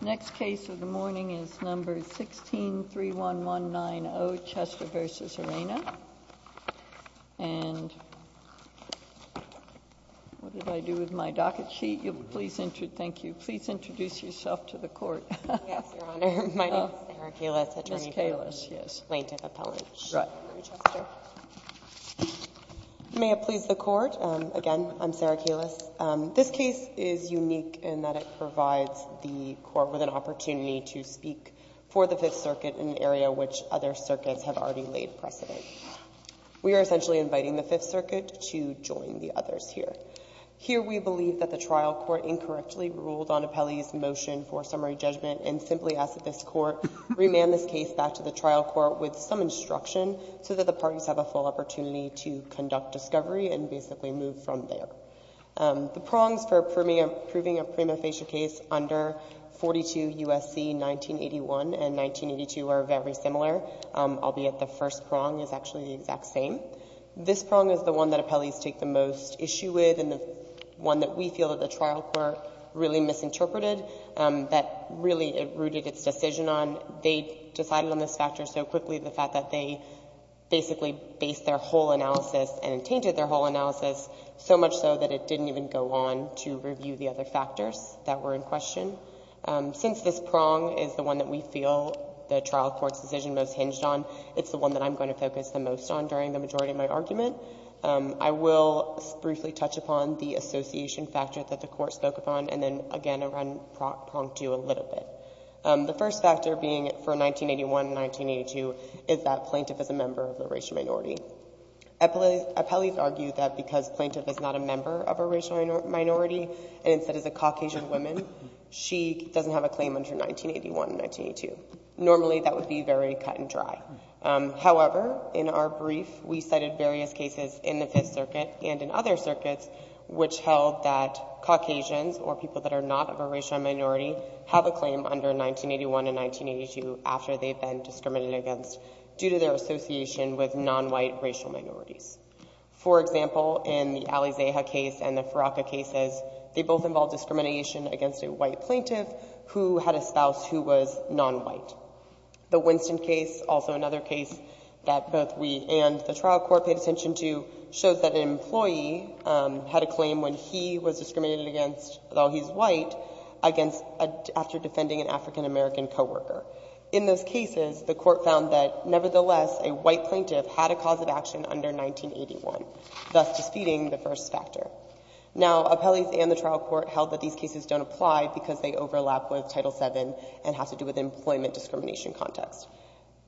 The next case of the morning is No. 16-31190, Chester v. Arena, and what did I do with my docket sheet? Thank you. Please introduce yourself to the Court. Yes, Your Honor. My name is Sarah Kalis, attorney for plaintiff appellate Chester. May it please the Court. Again, I'm Sarah Kalis. This case is unique in that it provides the Court with an opportunity to speak for the Fifth Circuit in an area which other circuits have already laid precedent. We are essentially inviting the Fifth Circuit to join the others here. Here we believe that the trial court incorrectly ruled on appellee's motion for summary judgment and simply ask that this Court remand this case back to the trial court with some instruction so that the parties have a full opportunity to conduct discovery and basically move from there. The prongs for approving a prima facie case under 42 U.S.C. 1981 and 1982 are very similar, albeit the first prong is actually the exact same. This prong is the one that appellees take the most issue with and the one that we feel that the trial court really misinterpreted, that really it rooted its decision on. They decided on this factor so quickly, the fact that they basically based their whole much so that it didn't even go on to review the other factors that were in question. Since this prong is the one that we feel the trial court's decision most hinged on, it's the one that I'm going to focus the most on during the majority of my argument. I will briefly touch upon the association factor that the Court spoke upon and then again I'll run prong two a little bit. The first factor being for 1981 and 1982 is that plaintiff is a member of the racial minority. Appellees argue that because plaintiff is not a member of a racial minority and instead is a Caucasian woman, she doesn't have a claim under 1981 and 1982. Normally that would be very cut and dry. However, in our brief we cited various cases in the Fifth Circuit and in other circuits which held that Caucasians or people that are not of a racial minority have a claim under 1981 and 1982 after they've been discriminated against due to their association with non-white racial minorities. For example, in the Ali Zaha case and the Faraka cases, they both involved discrimination against a white plaintiff who had a spouse who was non-white. The Winston case, also another case that both we and the trial court paid attention to, shows that an employee had a claim when he was discriminated against, though he's white, after defending an African-American coworker. In those cases, the court found that nevertheless, a white plaintiff had a cause of action under 1981, thus defeating the first factor. Now, appellees and the trial court held that these cases don't apply because they overlap with Title VII and have to do with employment discrimination context.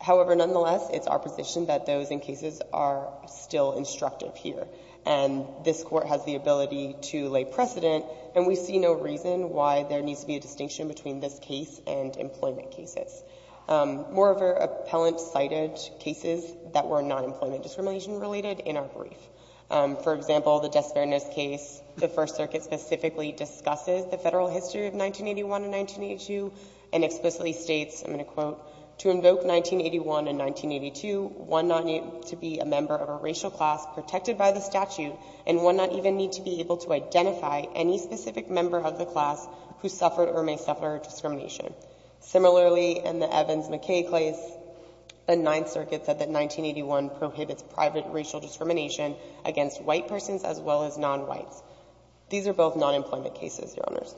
However, nonetheless, it's our position that those in cases are still instructive here, and this court has the ability to lay precedent, and we see no reason why there Moreover, appellants cited cases that were non-employment discrimination related in our brief. For example, the Des Ferenas case, the First Circuit specifically discusses the federal history of 1981 and 1982, and explicitly states, I'm going to quote, to invoke 1981 and 1982, one not need to be a member of a racial class protected by the statute, and one not even need to be able to identify any specific member of the class who suffered or may suffer discrimination. Similarly, in the Evans-McKay case, the Ninth Circuit said that 1981 prohibits private racial discrimination against white persons as well as non-whites. These are both non-employment cases, Your Honors.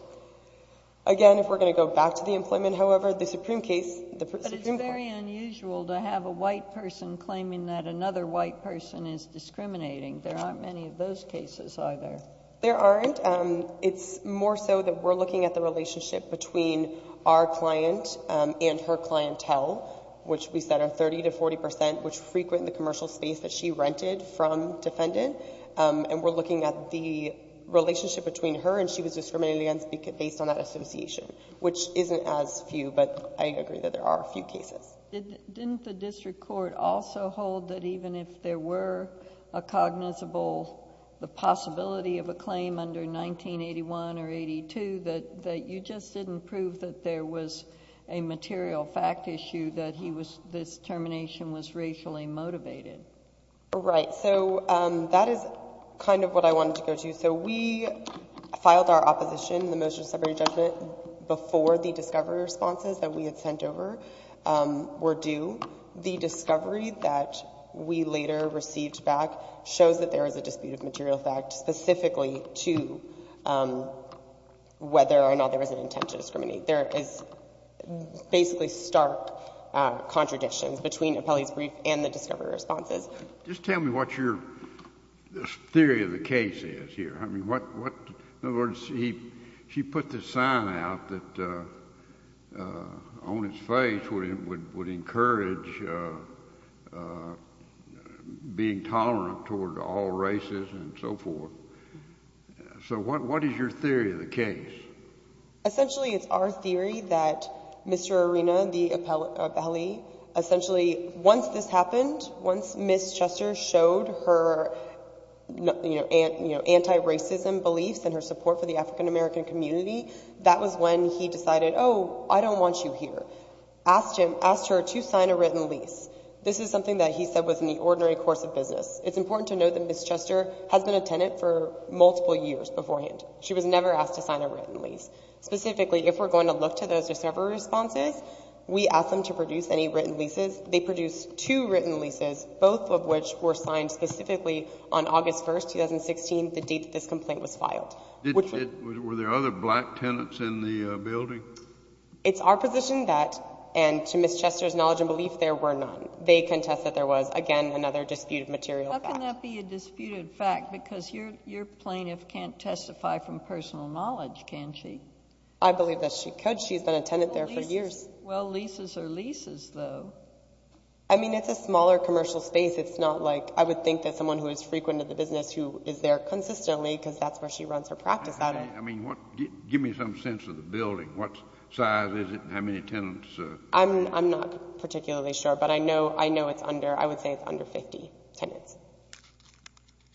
Again, if we're going to go back to the employment, however, the Supreme case, the Supreme Court But it's very unusual to have a white person claiming that another white person is discriminating. There aren't many of those cases, either. There aren't. But it's more so that we're looking at the relationship between our client and her clientele, which we said are 30 to 40%, which frequent the commercial space that she rented from defendant. And we're looking at the relationship between her and she was discriminated against based on that association, which isn't as few, but I agree that there are a few cases. Didn't the district court also hold that even if there were a cognizable, the possibility of a claim under 1981 or 82, that you just didn't prove that there was a material fact issue that he was, this termination was racially motivated? Right. So that is kind of what I wanted to go to. So we filed our opposition, the motion of summary judgment before the discovery responses that we had sent over were due. The discovery that we later received back shows that there is a dispute of material fact specifically to whether or not there was an intent to discriminate. There is basically stark contradictions between Apelli's brief and the discovery responses. Just tell me what your theory of the case is here. I mean, what, in other words, she put the sign out that on its face would encourage being tolerant toward all races and so forth. So what is your theory of the case? Essentially it's our theory that Mr. Arena, the Apelli, essentially once this happened, once Ms. Chester showed her anti-racism beliefs and her support for the African American community, that was when he decided, oh, I don't want you here. He asked her to sign a written lease. This is something that he said was in the ordinary course of business. It's important to note that Ms. Chester has been a tenant for multiple years beforehand. She was never asked to sign a written lease. Specifically if we're going to look to those discovery responses, we asked them to produce any written leases. They produced two written leases, both of which were signed specifically on August 1, 2016, the date that this complaint was filed. Were there other black tenants in the building? It's our position that, and to Ms. Chester's knowledge and belief, there were none. They contest that there was, again, another disputed material fact. How can that be a disputed fact? Because your plaintiff can't testify from personal knowledge, can she? I believe that she could. She's been a tenant there for years. Well, leases are leases, though. I mean, it's a smaller commercial space. It's not like I would think that someone who is frequent in the business who is there consistently because that's where she runs her practice at. I mean, give me some sense of the building. What size is it and how many tenants? I'm not particularly sure, but I know it's under, I would say it's under 50 tenants.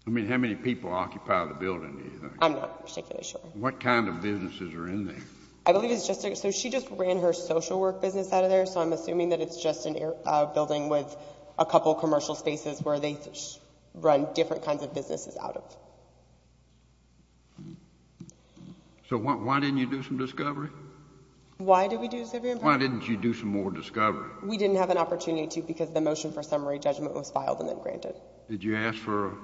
I mean, how many people occupy the building, do you think? I'm not particularly sure. What kind of businesses are in there? I believe it's just, so she just ran her social work business out of there, so I'm assuming that it's just a building with a couple commercial spaces where they run different kinds of businesses out of. So why didn't you do some discovery? Why did we do some discovery? Why didn't you do some more discovery? We didn't have an opportunity to because the motion for summary judgment was filed and then granted. Did you ask for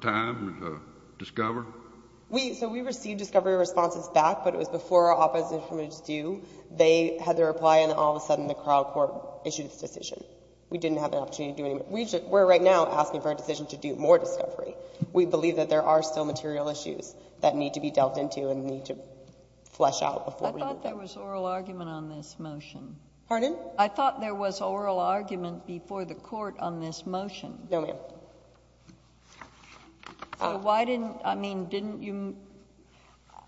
time to discover? So we received discovery responses back, but it was before our opposition was due. They had their reply and all of a sudden the trial court issued its decision. We didn't have an opportunity to do any more. We're right now asking for a decision to do more discovery. We believe that there are still material issues that need to be dealt into and need to flesh out before we do that. I thought there was oral argument on this motion. Pardon? I thought there was oral argument before the court on this motion. No, ma'am. So why didn't, I mean, didn't you,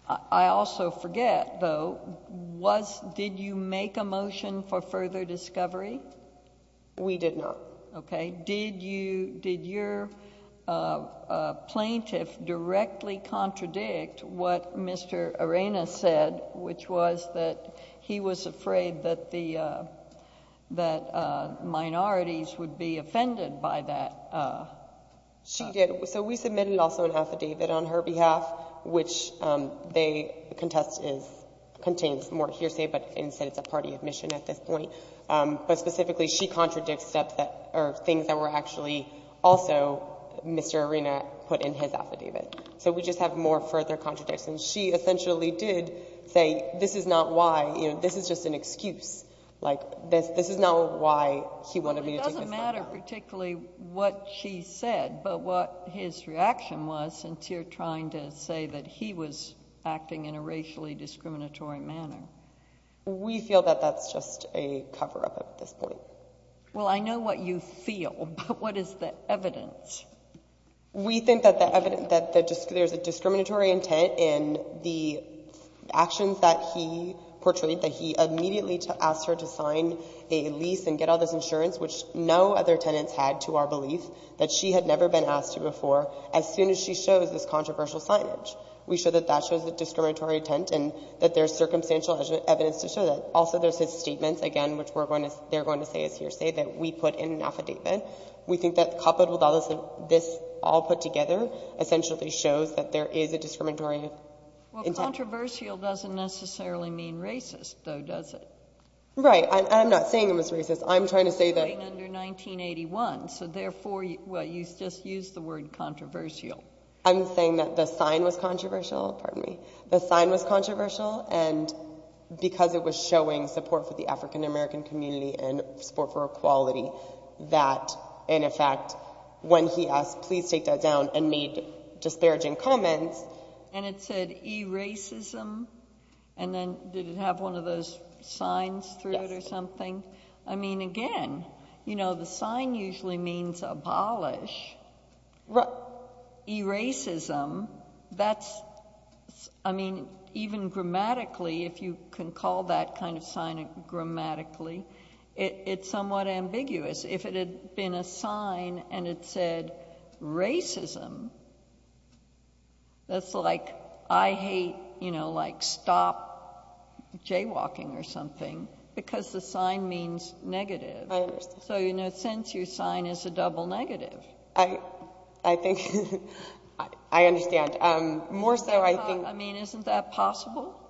I also forget though, was, did you make a motion for further discovery? We did not. Okay. And did you, did your plaintiff directly contradict what Mr. Arena said, which was that he was afraid that the, that minorities would be offended by that? She did. So we submitted also an affidavit on her behalf, which they contest is, contains more hearsay, but instead it's a party admission at this point. But specifically she contradicts steps that are things that were actually also Mr. Arena put in his affidavit. So we just have more further contradictions. She essentially did say, this is not why, you know, this is just an excuse. Like this, this is not why he wanted me to take this matter. It doesn't matter particularly what she said, but what his reaction was since you're trying to say that he was acting in a racially discriminatory manner. We feel that that's just a cover-up at this point. Well, I know what you feel, but what is the evidence? We think that the evidence, that there's a discriminatory intent in the actions that he portrayed, that he immediately asked her to sign a lease and get all this insurance, which no other tenants had to our belief, that she had never been asked to before, as soon as she shows this controversial signage. We show that that shows the discriminatory intent and that there's circumstantial evidence to show that. Also, there's his statements again, which we're going to, they're going to say is hearsay that we put in an affidavit. We think that coupled with all this, this all put together essentially shows that there is a discriminatory. Well, controversial doesn't necessarily mean racist though, does it? Right. I'm not saying it was racist. I'm trying to say that. Right under 1981, so therefore, well, you just use the word controversial. I'm saying that the sign was controversial, pardon me. The sign was controversial and because it was showing support for the African American community and support for equality, that in effect, when he asked, please take that down and made disparaging comments. And it said e-racism and then did it have one of those signs through it or something? I mean, again, you know, the sign usually means abolish. Right. E-racism, that's, I mean, even grammatically, if you can call that kind of sign grammatically, it's somewhat ambiguous. If it had been a sign and it said racism, that's like, I hate, you know, like stop jaywalking or something because the sign means negative. I understand. So, you know, since your sign is a double negative. I think, I understand. More so, I think. I mean, isn't that possible?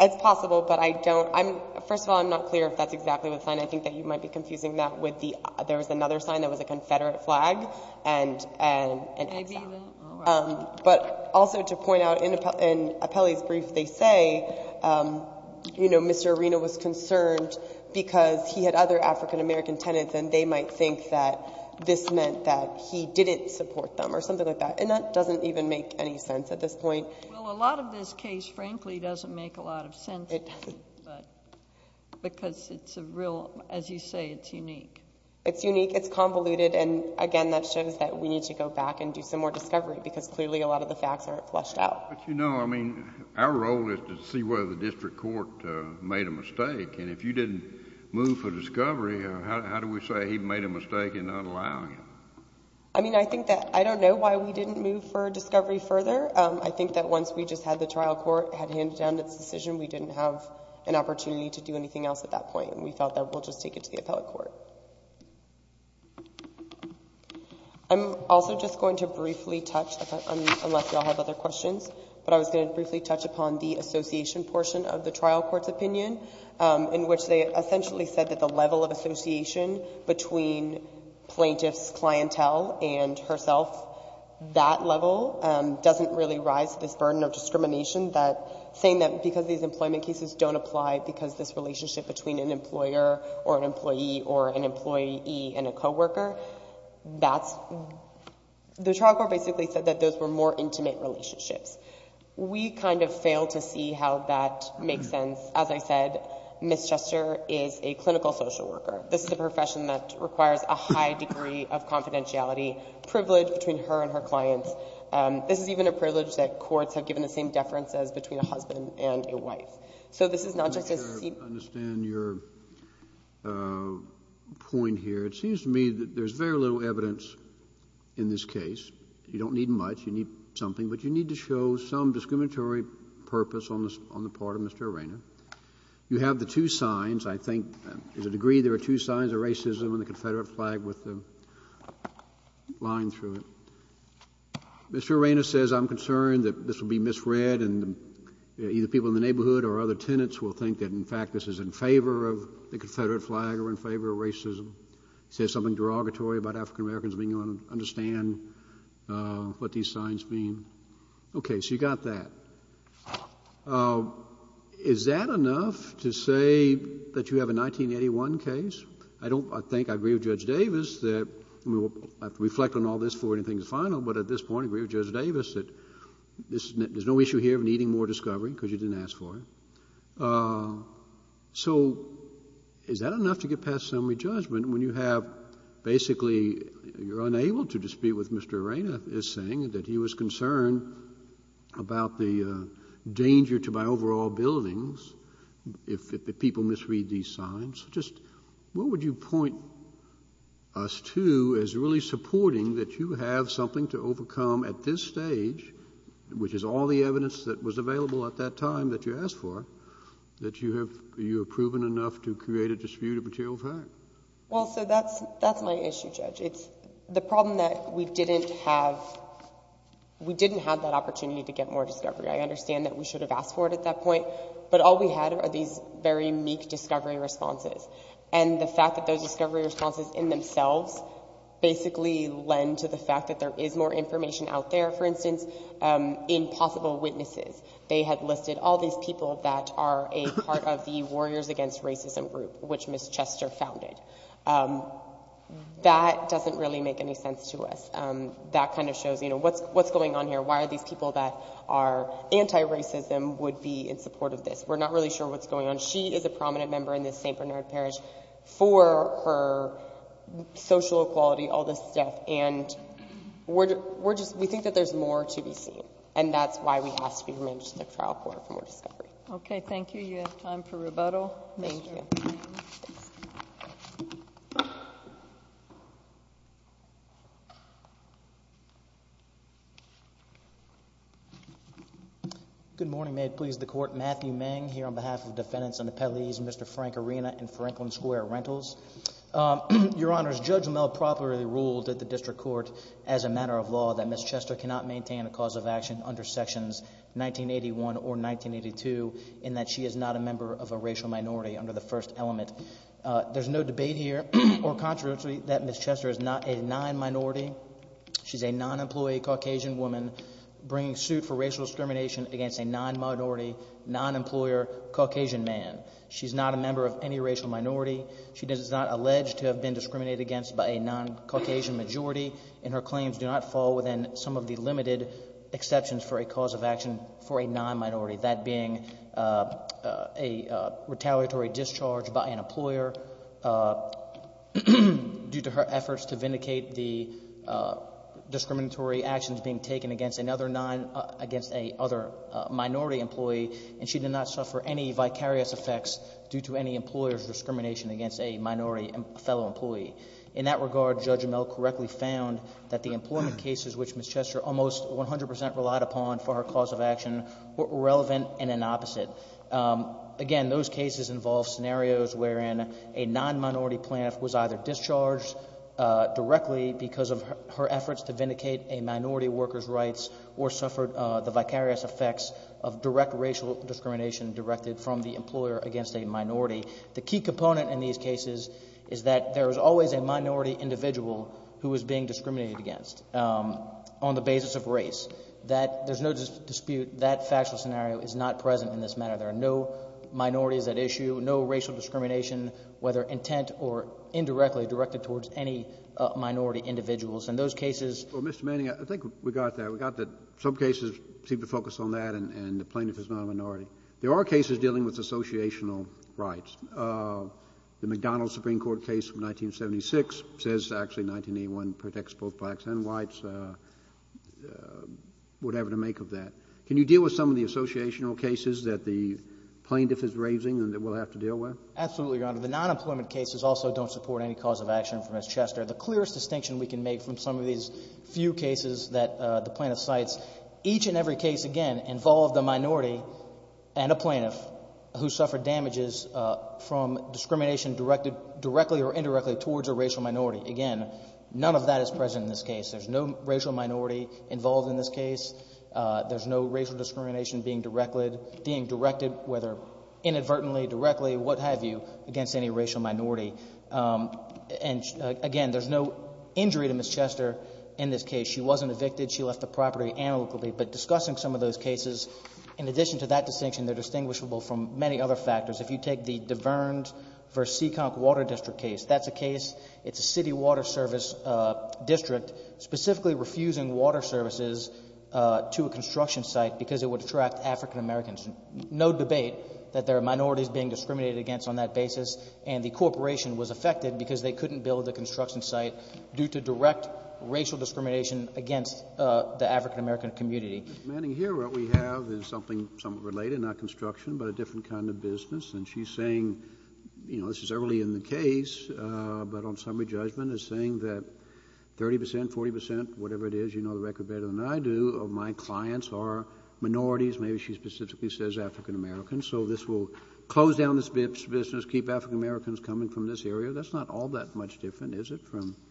It's possible, but I don't, I'm, first of all, I'm not clear if that's exactly the sign. I think that you might be confusing that with the, there was another sign that was a confederate flag and, and, but also to point out in Appelli's brief, they say, you know, Mr. Arena was concerned because he had other African-American tenants and they might think that this meant that he didn't support them or something like that. And that doesn't even make any sense at this point. Well, a lot of this case, frankly, doesn't make a lot of sense. Because it's a real, as you say, it's unique. It's unique. It's convoluted. And again, that shows that we need to go back and do some more discovery because clearly a lot of the facts aren't fleshed out. But you know, I mean, our role is to see whether the district court made a mistake. And if you didn't move for discovery, how do we say he made a mistake in not allowing it? I mean, I think that, I don't know why we didn't move for discovery further. I think that once we just had the trial court had handed down its decision, we didn't have an opportunity to do anything else at that point. And we felt that we'll just take it to the appellate court. I'm also just going to briefly touch, unless y'all have other questions, but I was going to briefly touch upon the association portion of the trial court's opinion in which they essentially said that the level of association between plaintiff's clientele and herself, that level doesn't really rise to this burden of discrimination that saying that because these employment cases don't apply because this relationship between an employer or an employee or an employee and a coworker, that's, the trial court basically said that those were more intimate relationships. We kind of failed to see how that makes sense. As I said, Ms. Chester is a clinical social worker. This is a profession that requires a high degree of confidentiality, privilege between her and her clients. This is even a privilege that courts have given the same deference as between a husband and a wife. So this is not just a seat. I understand your point here. It seems to me that there's very little evidence in this case. You don't need much. You need something. But you need to show some discriminatory purpose on the part of Mr. Arena. You have the two signs, I think, to the degree there are two signs of racism on the Confederate flag with the line through it. Mr. Arena says, I'm concerned that this will be misread and either people in the neighborhood or other tenants will think that, in fact, this is in favor of the Confederate flag or in favor of racism. Say something derogatory about African-Americans being able to understand what these signs mean. Okay. So you got that. Is that enough to say that you have a 1981 case? I think I agree with Judge Davis that we will have to reflect on all this before anything is final. But at this point, I agree with Judge Davis that there's no issue here of needing more discovery because you didn't ask for it. So is that enough to get past summary judgment when you have basically you're unable to dispute what Mr. Arena is saying, that he was concerned about the danger to my overall buildings if people misread these signs? Just what would you point us to as really supporting that you have something to overcome at this stage, which is all the evidence that was available at that time that you asked for, that you have proven enough to create a dispute of material fact? Well, so that's my issue, Judge. It's the problem that we didn't have that opportunity to get more discovery. I understand that we should have asked for it at that point, but all we had are these very meek discovery responses. And the fact that those discovery responses in themselves basically lend to the fact that there is more information out there, for instance, in possible witnesses. They had listed all these people that are a part of the Warriors Against Racism group, which Ms. Chester founded. That doesn't really make any sense to us. That kind of shows, you know, what's going on here? Why are these people that are anti-racism would be in support of this? We're not really sure what's going on. She is a prominent member in the St. Bernard Parish for her social equality, all this stuff. And we think that there's more to be seen. And that's why we have to be remanded to the trial court for more discovery. Okay. Thank you. You have time for rebuttal. Thank you. Good morning. May it please the Court. Matthew Meng here on behalf of defendants on the penalties, Mr. Frank Arena and Franklin Square Rentals. Your Honor, Judge Amell properly ruled at the district court as a matter of law that under Sections 1981 or 1982 in that she is not a member of a racial minority under the first element. There's no debate here or controversy that Ms. Chester is not a non-minority. She's a non-employee Caucasian woman bringing suit for racial discrimination against a non-minority non-employer Caucasian man. She's not a member of any racial minority. She does not allege to have been discriminated against by a non-Caucasian majority. And her claims do not fall within some of the limited exceptions for a cause of action for a non-minority, that being a retaliatory discharge by an employer due to her efforts to vindicate the discriminatory actions being taken against another minority employee. And she did not suffer any vicarious effects due to any employer's discrimination against a minority fellow employee. In that regard, Judge Amell correctly found that the employment cases which Ms. Chester almost 100% relied upon for her cause of action were irrelevant and an opposite. Again, those cases involve scenarios wherein a non-minority plaintiff was either discharged directly because of her efforts to vindicate a minority worker's rights or suffered the vicarious effects of direct racial discrimination directed from the employer against a minority. The key component in these cases is that there is always a minority individual who is being discriminated against on the basis of race. That — there's no dispute that factual scenario is not present in this matter. There are no minorities at issue, no racial discrimination, whether intent or indirectly directed towards any minority individuals. In those cases — JUSTICE KENNEDY Mr. Manning, I think we got there. We got that some cases seem to focus on that and the plaintiff is not a minority. There are cases dealing with associational rights. The McDonald Supreme Court case from 1976 says actually 1981 protects both blacks and whites, whatever to make of that. Can you deal with some of the associational cases that the plaintiff is raising and that we'll have to deal with? MR. MANNING Absolutely, Your Honor. The non-employment cases also don't support any cause of action for Ms. Chester. The clearest distinction we can make from some of these few cases that the plaintiff cites, each and every case, again, involved a minority and a plaintiff who suffered damages from discrimination directed — directly or indirectly towards a racial minority. Again, none of that is present in this case. There's no racial minority involved in this case. There's no racial discrimination being directed, whether inadvertently, directly, what have you, against any racial minority. And again, there's no injury to Ms. Chester in this case. She wasn't evicted. She left the property annexedly. But discussing some of those cases, in addition to that distinction, they're distinguishable from many other factors. If you take the Davernes v. Seekonk Water District case, that's a case — it's a city water service district specifically refusing water services to a construction site because it would attract African Americans. No debate that there are minorities being discriminated against on that basis, and the corporation was affected because they couldn't build the construction site due to direct racial discrimination against the African American community. Mr. Manning, here what we have is something somewhat related, not construction, but a different kind of business. And she's saying, you know, this is early in the case, but on summary judgment is saying that 30 percent, 40 percent, whatever it is, you know the record better than I do, of my clients are minorities. Maybe she specifically says African Americans. So this will close down this business, keep African Americans coming from this area. That's not all that much different, is it, from —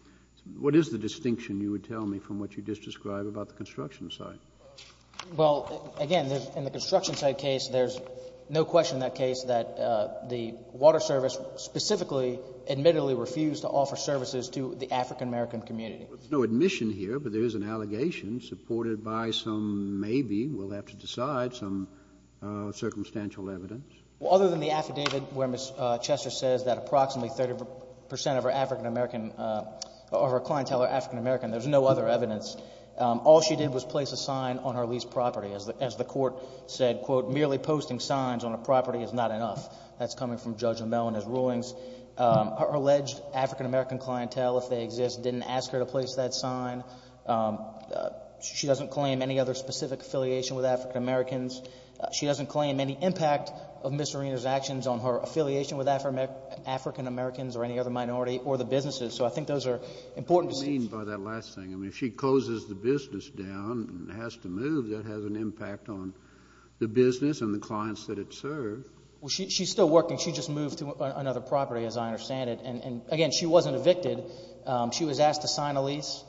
what is the distinction? You would tell me from what you just described about the construction site. Well, again, in the construction site case, there's no question in that case that the water service specifically admittedly refused to offer services to the African American community. There's no admission here, but there is an allegation supported by some — maybe we'll have to decide — some circumstantial evidence. Other than the affidavit where Ms. Chester says that approximately 30 percent of her clientele are African American, there's no other evidence. All she did was place a sign on her leased property. As the Court said, quote, merely posting signs on a property is not enough. That's coming from Judge O'Mell and his rulings. Her alleged African American clientele, if they exist, didn't ask her to place that sign. She doesn't claim any other specific affiliation with African Americans. She doesn't claim any impact of Ms. Serena's actions on her affiliation with African Americans or any other minority or the businesses. So I think those are important. What do you mean by that last thing? I mean, if she closes the business down and has to move, that has an impact on the business and the clients that it serves. Well, she's still working. She just moved to another property, as I understand it. And again, she wasn't evicted. She was asked to sign a lease.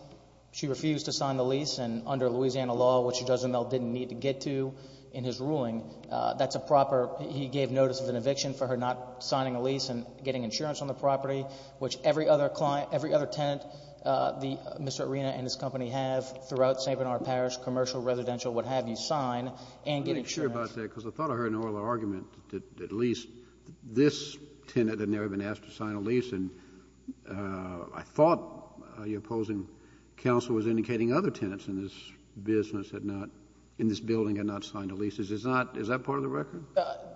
She refused to sign the lease. And under Louisiana law, which Judge O'Mell didn't need to get to in his ruling, that's a proper — he gave notice of an eviction for her not signing a lease and getting insurance on the property, which every other tenant, Mr. Arena and his company have throughout St. Bernard Parish, commercial, residential, what have you, sign and get insurance. I'm not sure about that, because I thought I heard an earlier argument that at least this tenant had never been asked to sign a lease. And I thought your opposing counsel was indicating other tenants in this business had not — in this building had not signed a lease. Is that part of the record?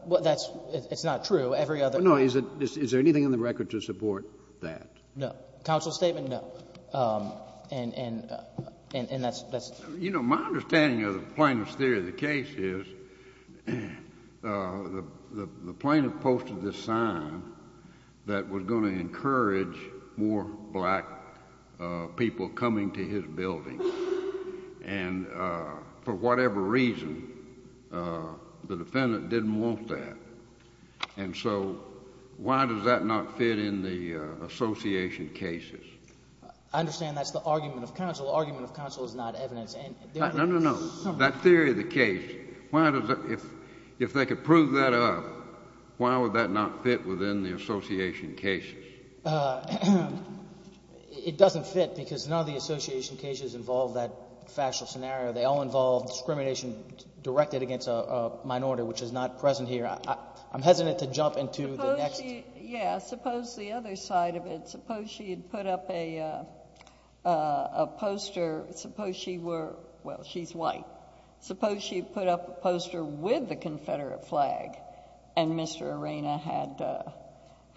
Well, that's — it's not true. Every other — No, is there anything in the record to support that? No. Counsel's statement, no. And that's — You know, my understanding of the plaintiff's theory of the case is the plaintiff posted this sign that was going to encourage more black people coming to his building. And for whatever reason, the defendant didn't want that. And so why does that not fit in the association cases? I understand that's the argument of counsel. Argument of counsel is not evidence. No, no, no, no. That theory of the case, why does — if they could prove that up, why would that not fit within the association cases? It doesn't fit, because none of the association cases involve that factual scenario. They all involve discrimination directed against a minority, which is not present here. I'm hesitant to jump into the next — Yeah, suppose the other side of it. Suppose she had put up a poster. Suppose she were — well, she's white. Suppose she put up a poster with the Confederate flag and Mr. Arena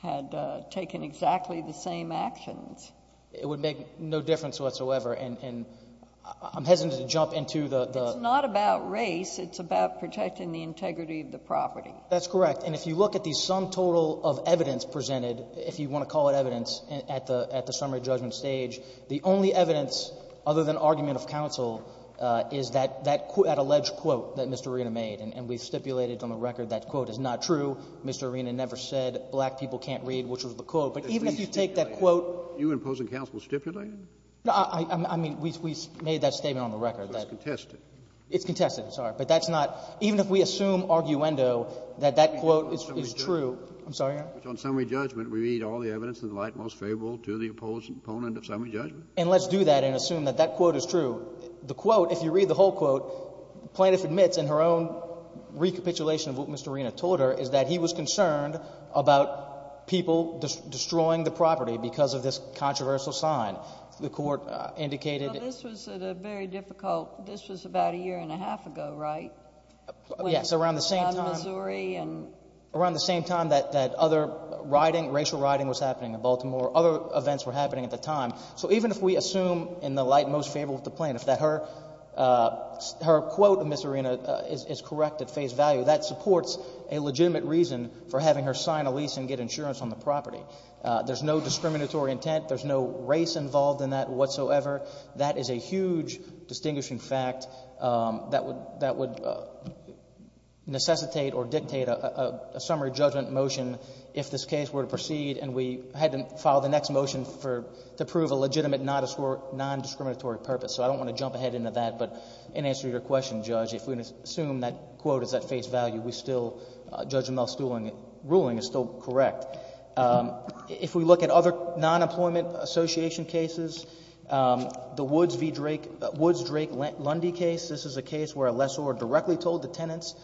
had taken exactly the same actions. It would make no difference whatsoever. And I'm hesitant to jump into the — It's not about race. It's about protecting the integrity of the property. That's correct. And if you look at the sum total of evidence presented, if you want to call it evidence at the — at the summary judgment stage, the only evidence other than argument of counsel is that — that alleged quote that Mr. Arena made. And we've stipulated on the record that quote is not true. Mr. Arena never said black people can't read, which was the quote. But even if you take that quote — Are you imposing counsel stipulated? I mean, we made that statement on the record. It's contested. It's contested, sorry. But that's not — even if we assume arguendo that that quote is true — I'm sorry, Your Honor. On summary judgment, we read all the evidence in the light most favorable to the opponent of summary judgment. And let's do that and assume that that quote is true. The quote, if you read the whole quote, plaintiff admits in her own recapitulation of what Mr. Arena told her is that he was concerned about people destroying the property because of this controversial sign. The Court indicated — This was at a very difficult — this was about a year and a half ago, right? Yes, around the same time — On Missouri and — Around the same time that other riding, racial riding was happening in Baltimore, other events were happening at the time. So even if we assume in the light most favorable to the plaintiff that her quote, Ms. Arena, is correct at face value, that supports a legitimate reason for having her sign a lease and get insurance on the property. There's no discriminatory intent. There's no race involved in that whatsoever. That is a huge distinguishing fact that would necessitate or dictate a summary judgment motion if this case were to proceed and we had to file the next motion for — to prove a legitimate non-discriminatory purpose. So I don't want to jump ahead into that, but in answer to your question, Judge, if we assume that quote is at face value, we still — Judge Amell's ruling is still correct. If we look at other non-employment association cases, the Woods v. Drake — Woods-Drake-Lundy case, this is a case where a lessor directly told the tenants,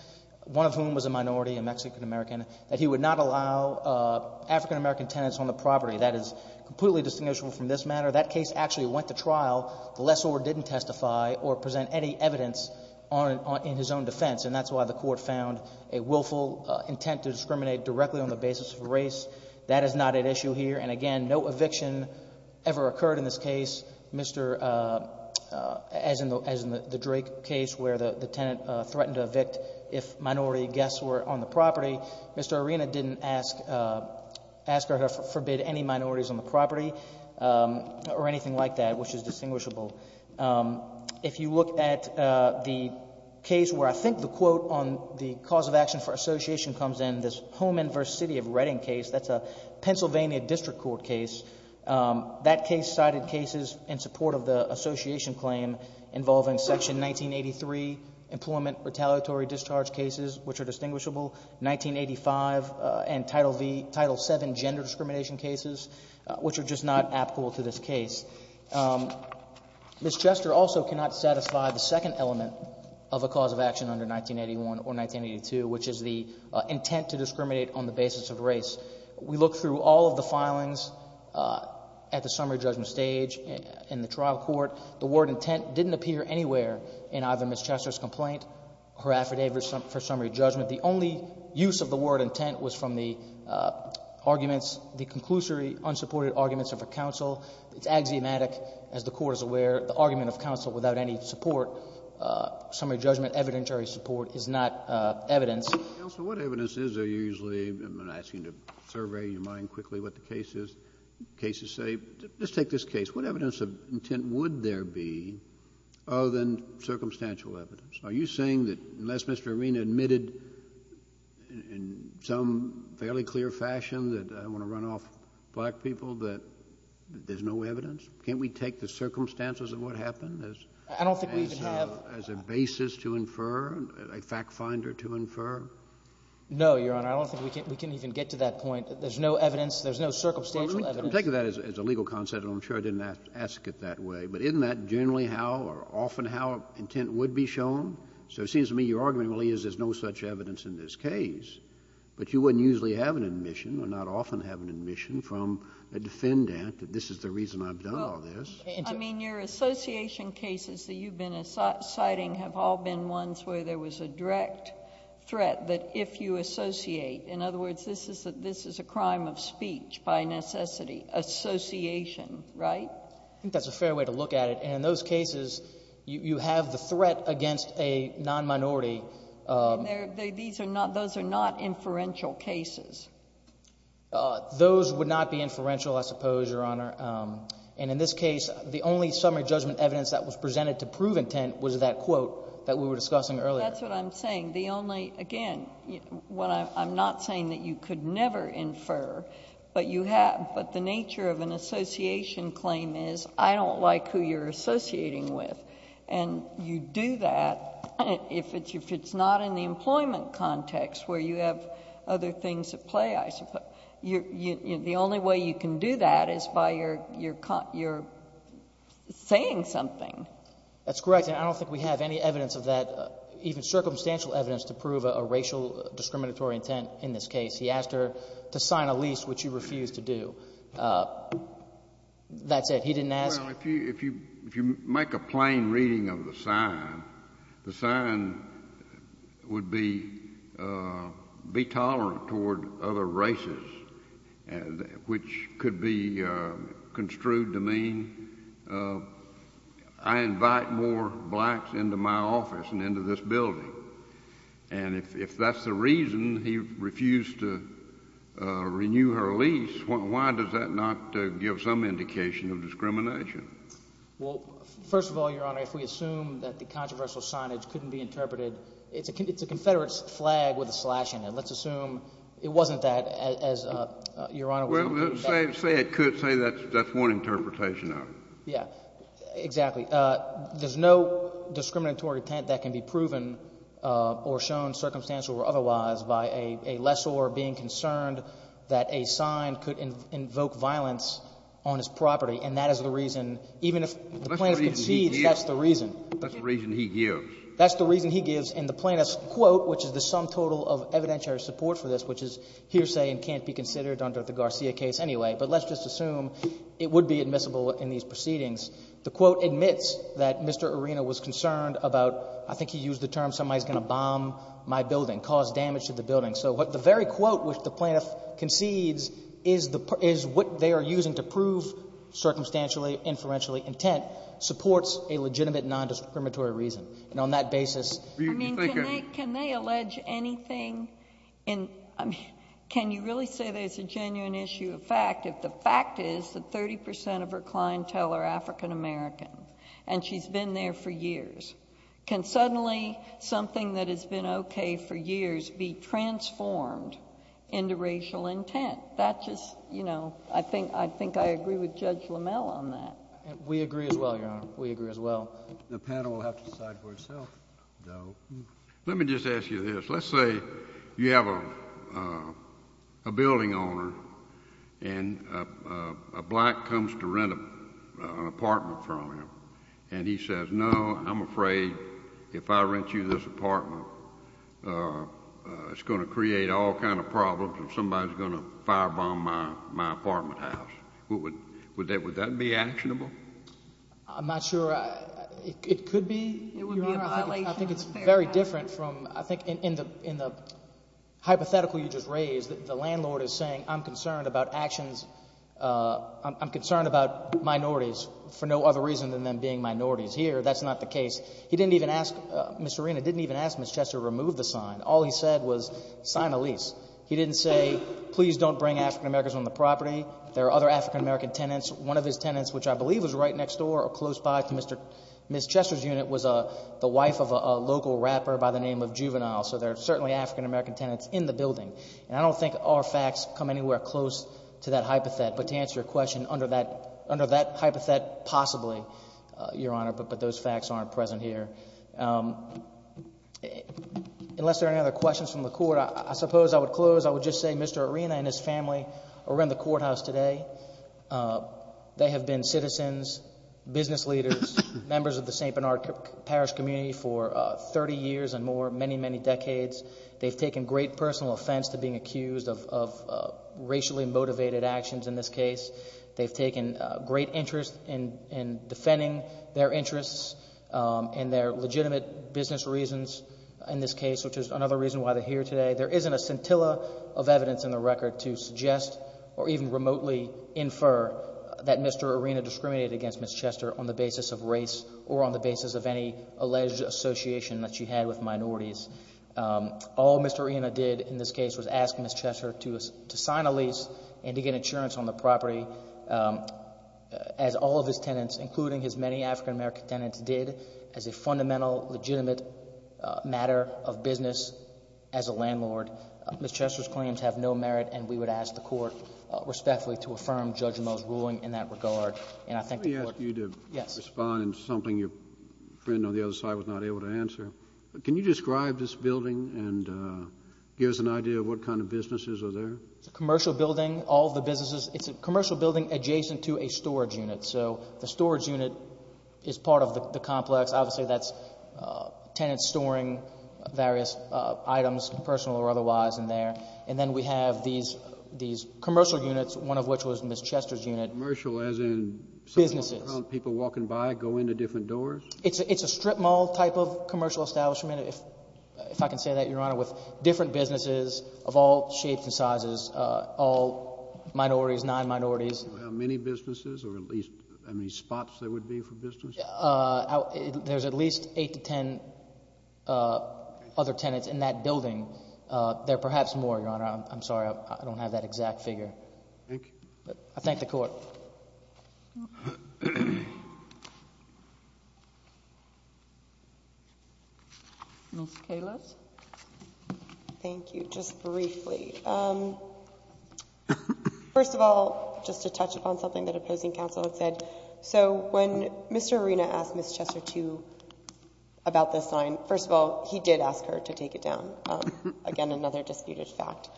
one of whom was a minority, a Mexican-American, that he would not allow African-American tenants on the property. That is completely distinguishable from this matter. That case actually went to trial. The lessor didn't testify or present any evidence on — in his own defense, and that's why the court found a willful intent to discriminate directly on the basis of race. That is not at issue here. And again, no eviction ever occurred in this case. Mr. — as in the — as in the Drake case where the tenant threatened to evict if minority guests were on the property, Mr. Arena didn't ask — ask or forbid any minorities on the property or anything like that, which is distinguishable. If you look at the case where I think the quote on the cause of action for association comes in, this Holman v. City of Reading case, that's a Pennsylvania district court case, that case cited cases in support of the association claim involving Section 1983 employment retaliatory discharge cases, which are distinguishable, 1985, and Title VII gender discrimination cases, which are just not applicable to this case. Ms. Chester also cannot satisfy the second element of a cause of action under 1981 or 1982, which is the intent to discriminate on the basis of race. We looked through all of the filings at the summary judgment stage in the trial court. The word intent didn't appear anywhere in either Ms. Chester's complaint or her affidavit for summary judgment. The only use of the word intent was from the arguments, the conclusory unsupported arguments of her counsel. It's axiomatic. As the Court is aware, the argument of counsel without any support, summary judgment evidentiary support, is not evidence. JUSTICE KENNEDY Counsel, what evidence is there usually? I'm asking to survey your mind quickly what the cases say. Let's take this case. What evidence of intent would there be other than circumstantial evidence? Are you saying that unless Mr. Arena admitted in some fairly clear fashion that I want to run off black people that there's no evidence? Can't we take the circumstances of what happened as a basis to infer, a fact finder MR. CHESTER No, Your Honor. I don't think we can even get to that point. There's no evidence. There's no circumstantial evidence. JUSTICE KENNEDY I'm taking that as a legal concept. I'm sure I didn't ask it that way. But isn't that generally how or often how intent would be shown? So it seems to me your argument really is there's no such evidence in this case. But you wouldn't usually have an admission or not often have an admission from a defendant that this is the reason I've done all this. JUSTICE GINSBURG I mean, your association cases that you've been citing have all been ones where there was a direct threat that if you associate, in other words, this is a crime of speech by necessity, association, right? MR. CHESTER I think that's a fair way to look at it. And in those cases, you have the threat against a non-minority... JUSTICE GINSBURG These are not... those are not inferential cases. CHESTER Those would not be inferential, I suppose, Your Honor. And in this case, the only summary judgment evidence that was presented to prove intent was that quote that we were discussing earlier. JUSTICE GINSBURG That's what I'm saying. The only... again, I'm not saying that you could never infer, but you have... but the nature of an association claim is I don't like who you're associating with. And you do that if it's not in the employment context where you have other things at play, I suppose. The only way you can do that is by your saying something. MR. CHESTER That's correct. And I don't think we have any evidence of that, even circumstantial evidence, to prove a racial discriminatory intent in this case. He asked her to sign a lease, which she refused to do. That's it. He didn't ask... the sign would be intolerant toward other races, which could be construed to mean I invite more blacks into my office and into this building. And if that's the reason he refused to renew her lease, why does that not give some indication of discrimination? MR. CHESTER If we assume that the controversial signage couldn't be interpreted, it's a Confederate flag with a slash in it. Let's assume it wasn't that, as Your Honor was saying. JUSTICE KENNEDY Well, say it could. Say that's one interpretation of it. MR. CHESTER Yeah, exactly. There's no discriminatory intent that can be proven or shown circumstantial or otherwise by a lessor being concerned that a sign could invoke violence on his property. And that is the reason, even if the plaintiff concedes... JUSTICE KENNEDY That's the reason he gives. MR. CHESTER That's the reason he gives. And the plaintiff's quote, which is the sum total of evidentiary support for this, which is hearsay and can't be considered under the Garcia case anyway, but let's just assume it would be admissible in these proceedings, the quote admits that Mr. Arena was concerned about, I think he used the term, somebody's going to bomb my building, cause damage to the building. So the very quote which the plaintiff concedes is what they are using to prove circumstantially, inferentially intent, supports a legitimate nondiscriminatory reason. And on that basis... JUSTICE SOTOMAYOR I mean, can they allege anything in... I mean, can you really say there's a genuine issue of fact if the fact is that 30 percent of her clientele are African-American and she's been there for years? Can suddenly something that has been okay for years be transformed into racial intent? That just, you know, I think I agree with Judge LaMelle on that. JUSTICE KENNEDY We agree as well, Your Honor. We agree as well. JUSTICE KENNEDY The panel will have to decide for itself, though. JUSTICE KENNEDY Let me just ask you this. Let's say you have a building owner and a black comes to rent an apartment from him and he says, no, I'm afraid if I rent you this apartment, it's going to create all kinds of problems and somebody's going to firebomb my apartment house. Would that be actionable? JUSTICE SOTOMAYOR I'm not sure it could be, Your Honor. I think it's very different from... I think in the hypothetical you just raised, the landlord is saying I'm concerned about actions... I'm concerned about minorities for no other reason than them being minorities here. That's not the case. He didn't even ask... Ms. Serena didn't even ask Ms. Chester to remove the sign. All he said was sign a lease. He didn't say, please don't bring African-Americans on the property. There are other African-American tenants. One of his tenants, which I believe was right next door or close by to Ms. Chester's unit, was the wife of a local rapper by the name of Juvenile. So there are certainly African-American tenants in the building. And I don't think our facts come anywhere close to that hypothetic. But to answer your question, under that hypothetic, possibly, Your Honor, but those facts aren't present here. Unless there are any other questions from the court, I suppose I would close. I would just say Mr. Arena and his family are in the courthouse today. They have been citizens, business leaders, members of the St. Bernard Parish community for thirty years and more, many, many decades. They've taken great personal offense to being accused of racially motivated actions in this case. They've taken great interest in defending their interests and their legitimate business reasons in this case, which is another reason why they're here today. There isn't a scintilla of evidence in the record to suggest or even remotely infer that Mr. Arena discriminated against Ms. Chester on the basis of race or on the basis of any alleged association that she had with minorities. All Mr. Arena did in this case was ask Ms. Chester to sign a lease and to get insurance on the property, as all of his tenants, including his many African-American tenants did, as a fundamental, legitimate matter of business as a landlord. Ms. Chester's claims have no merit, and we would ask the court respectfully to affirm Judge Moe's ruling in that regard. And I think the court... Let me ask you to respond to something your friend on the other side was not able to answer. Can you describe this building and give us an idea of what kind of businesses are there? It's a commercial building. All of the businesses... it's a commercial building adjacent to a storage unit. So the storage unit is part of the complex. Obviously, that's tenants storing various items, personal or otherwise, in there. And then we have these commercial units, one of which was Ms. Chester's unit. Commercial as in... Businesses.... some people walking by, go in to different doors? It's a strip mall type of commercial establishment, if I can say that, Your Honor, with different businesses of all shapes and sizes, all minorities, non-minorities. Do you know how many businesses or at least how many spots there would be for businesses? There's at least eight to ten other tenants in that building. There are perhaps more, Your Honor. I'm sorry. I don't have that exact figure. Thank you. I thank the court. Ms. Califf? Thank you. Thank you. Just briefly. First of all, just to touch upon something that opposing counsel had said. So when Mr. Arena asked Ms. Chester to... about this sign, first of all, he did ask her to take it down. Again, another disputed fact.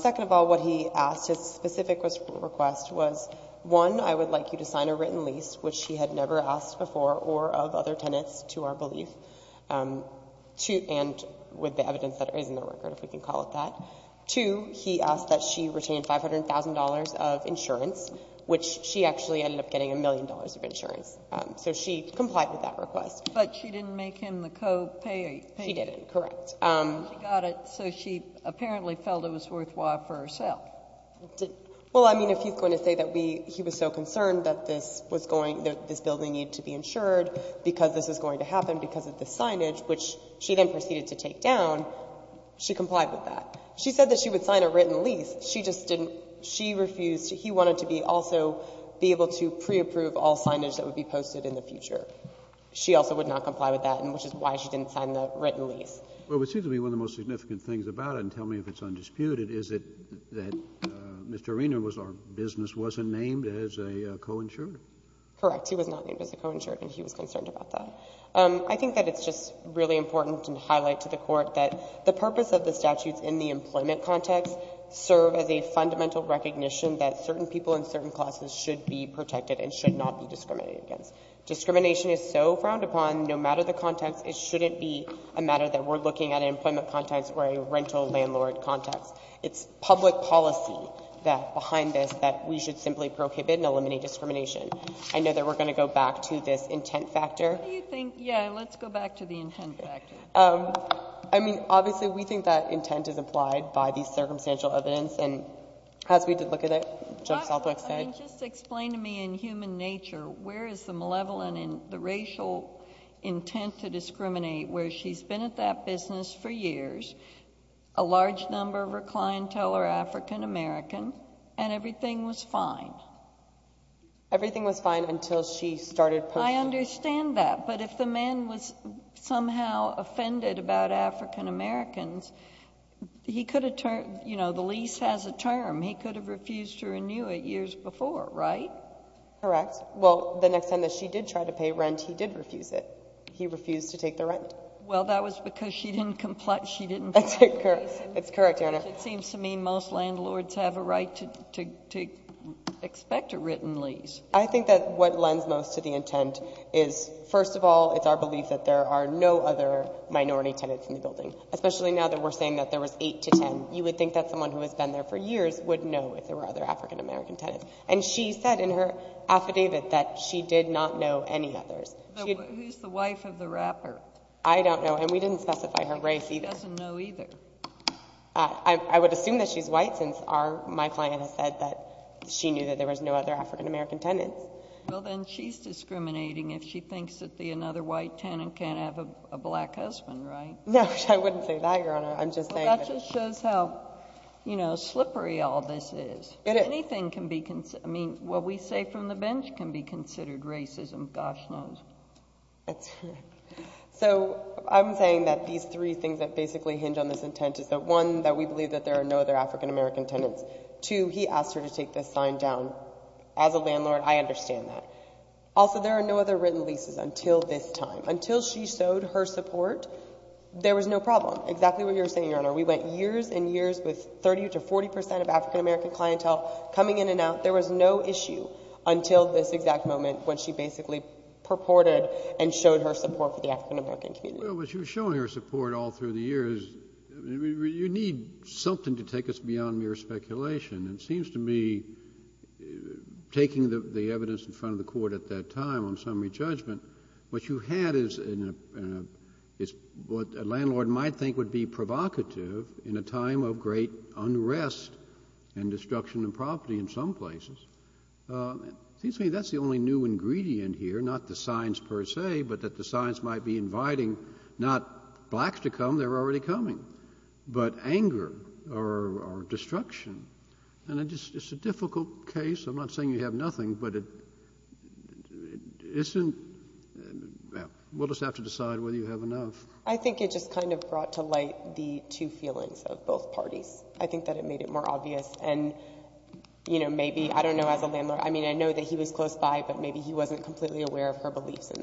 Second of all, what he asked, his specific request was, one, I would like you to sign a written lease, which he had never asked before or of other tenants, to our belief, and with the evidence that is in the record, if we can call it that. Two, he asked that she retain $500,000 of insurance, which she actually ended up getting a million dollars of insurance. So she complied with that request. But she didn't make him the co-payor. She didn't. Correct. She got it, so she apparently felt it was worthwhile for herself. Well, I mean, if he's going to say that he was so concerned that this building needed to be insured because this is going to happen because of the signage, which she then proceeded to take down, she complied with that. She said that she would sign a written lease. She just didn't. She refused. He wanted to be also be able to pre-approve all signage that would be posted in the future. She also would not comply with that, which is why she didn't sign the written lease. Well, it seems to me one of the most significant things about it, and tell me if it's undisputed, is that Mr. Arena was our business, wasn't named as a co-insurer. Correct. He was not named as a co-insurer, and he was concerned about that. I think that it's just really important to highlight to the Court that the purpose of the statutes in the employment context serve as a fundamental recognition that certain people in certain classes should be protected and should not be discriminated against. Discrimination is so frowned upon, no matter the context, it shouldn't be a matter that we're looking at an employment context or a rental landlord context. It's public policy that, behind this, that we should simply prohibit and eliminate discrimination. I know that we're going to go back to this intent factor. What do you think? Yeah, let's go back to the intent factor. I mean, obviously, we think that intent is implied by the circumstantial evidence, and as we did look at it, Judge Southwick said... I mean, just explain to me, in human nature, where is the malevolent and the racial intent to discriminate, where she's been at that business for years, a large number of her clientele are African American, and everything was fine? Everything was fine until she started posting... I understand that, but if the man was somehow offended about African Americans, he could have turned... you know, the lease has a term. He could have refused to renew it years before, right? Correct. Well, the next time that she did try to pay rent, he did refuse it. He refused to take the rent. Well, that was because she didn't comply... That's it, correct. It's correct, Your Honor. It seems to me most landlords have a right to expect a written lease. I think that what lends most to the intent is, first of all, it's our belief that there are no other minority tenants in the building, especially now that we're saying that there was eight to ten. You would think that someone who has been there for years would know if there were other African American tenants, and she said in her affidavit that she did not know any others. Who's the wife of the rapper? I don't know, and we didn't specify her race either. She doesn't know either. I would assume that she's white, since my client has said that she knew that there was no other African American tenants. Well, then she's discriminating if she thinks that another white tenant can't have a black husband, right? No, I wouldn't say that, Your Honor. I'm just saying... Well, that just shows how slippery all this is. Anything can be... I mean, what we say from the bench can be considered racism, gosh knows. That's right. So, I'm saying that these three things that basically hinge on this intent is that, one, that we believe that there are no other African American tenants. Two, he asked her to take this sign down as a landlord. I understand that. Also, there are no other written leases until this time. Until she showed her support, there was no problem. Exactly what you're saying, Your Honor. We went years and years with 30 to 40 percent of African American clientele coming in and out. There was no issue until this exact moment when she basically purported and showed her support for the African American community. Well, when she was showing her support all through the years, you need something to take us beyond mere speculation. It seems to me, taking the evidence in front of the Court at that time on summary judgment, what you had is what a landlord might think would be provocative in a time of great unrest and destruction of property in some places. It seems to me that's the only new ingredient here, not the signs per se, but that the signs might be inviting not blacks to come, they're already coming, but anger or destruction. And it's a difficult case. I'm not saying you have nothing, but it isn't—we'll just have to decide whether you have enough. I think it just kind of brought to light the two feelings of both parties. I think that it made it more obvious and, you know, maybe—I don't know as a landlord—I mean, I know that he was close by, but maybe he wasn't completely aware of her beliefs in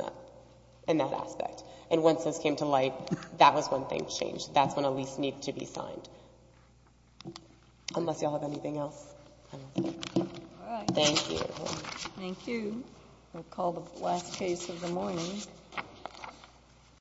that aspect. And once this came to light, that was when things changed. That's when a lease needed to be signed, unless y'all have anything else. All right. Thank you. Thank you. We'll call the last case of the morning.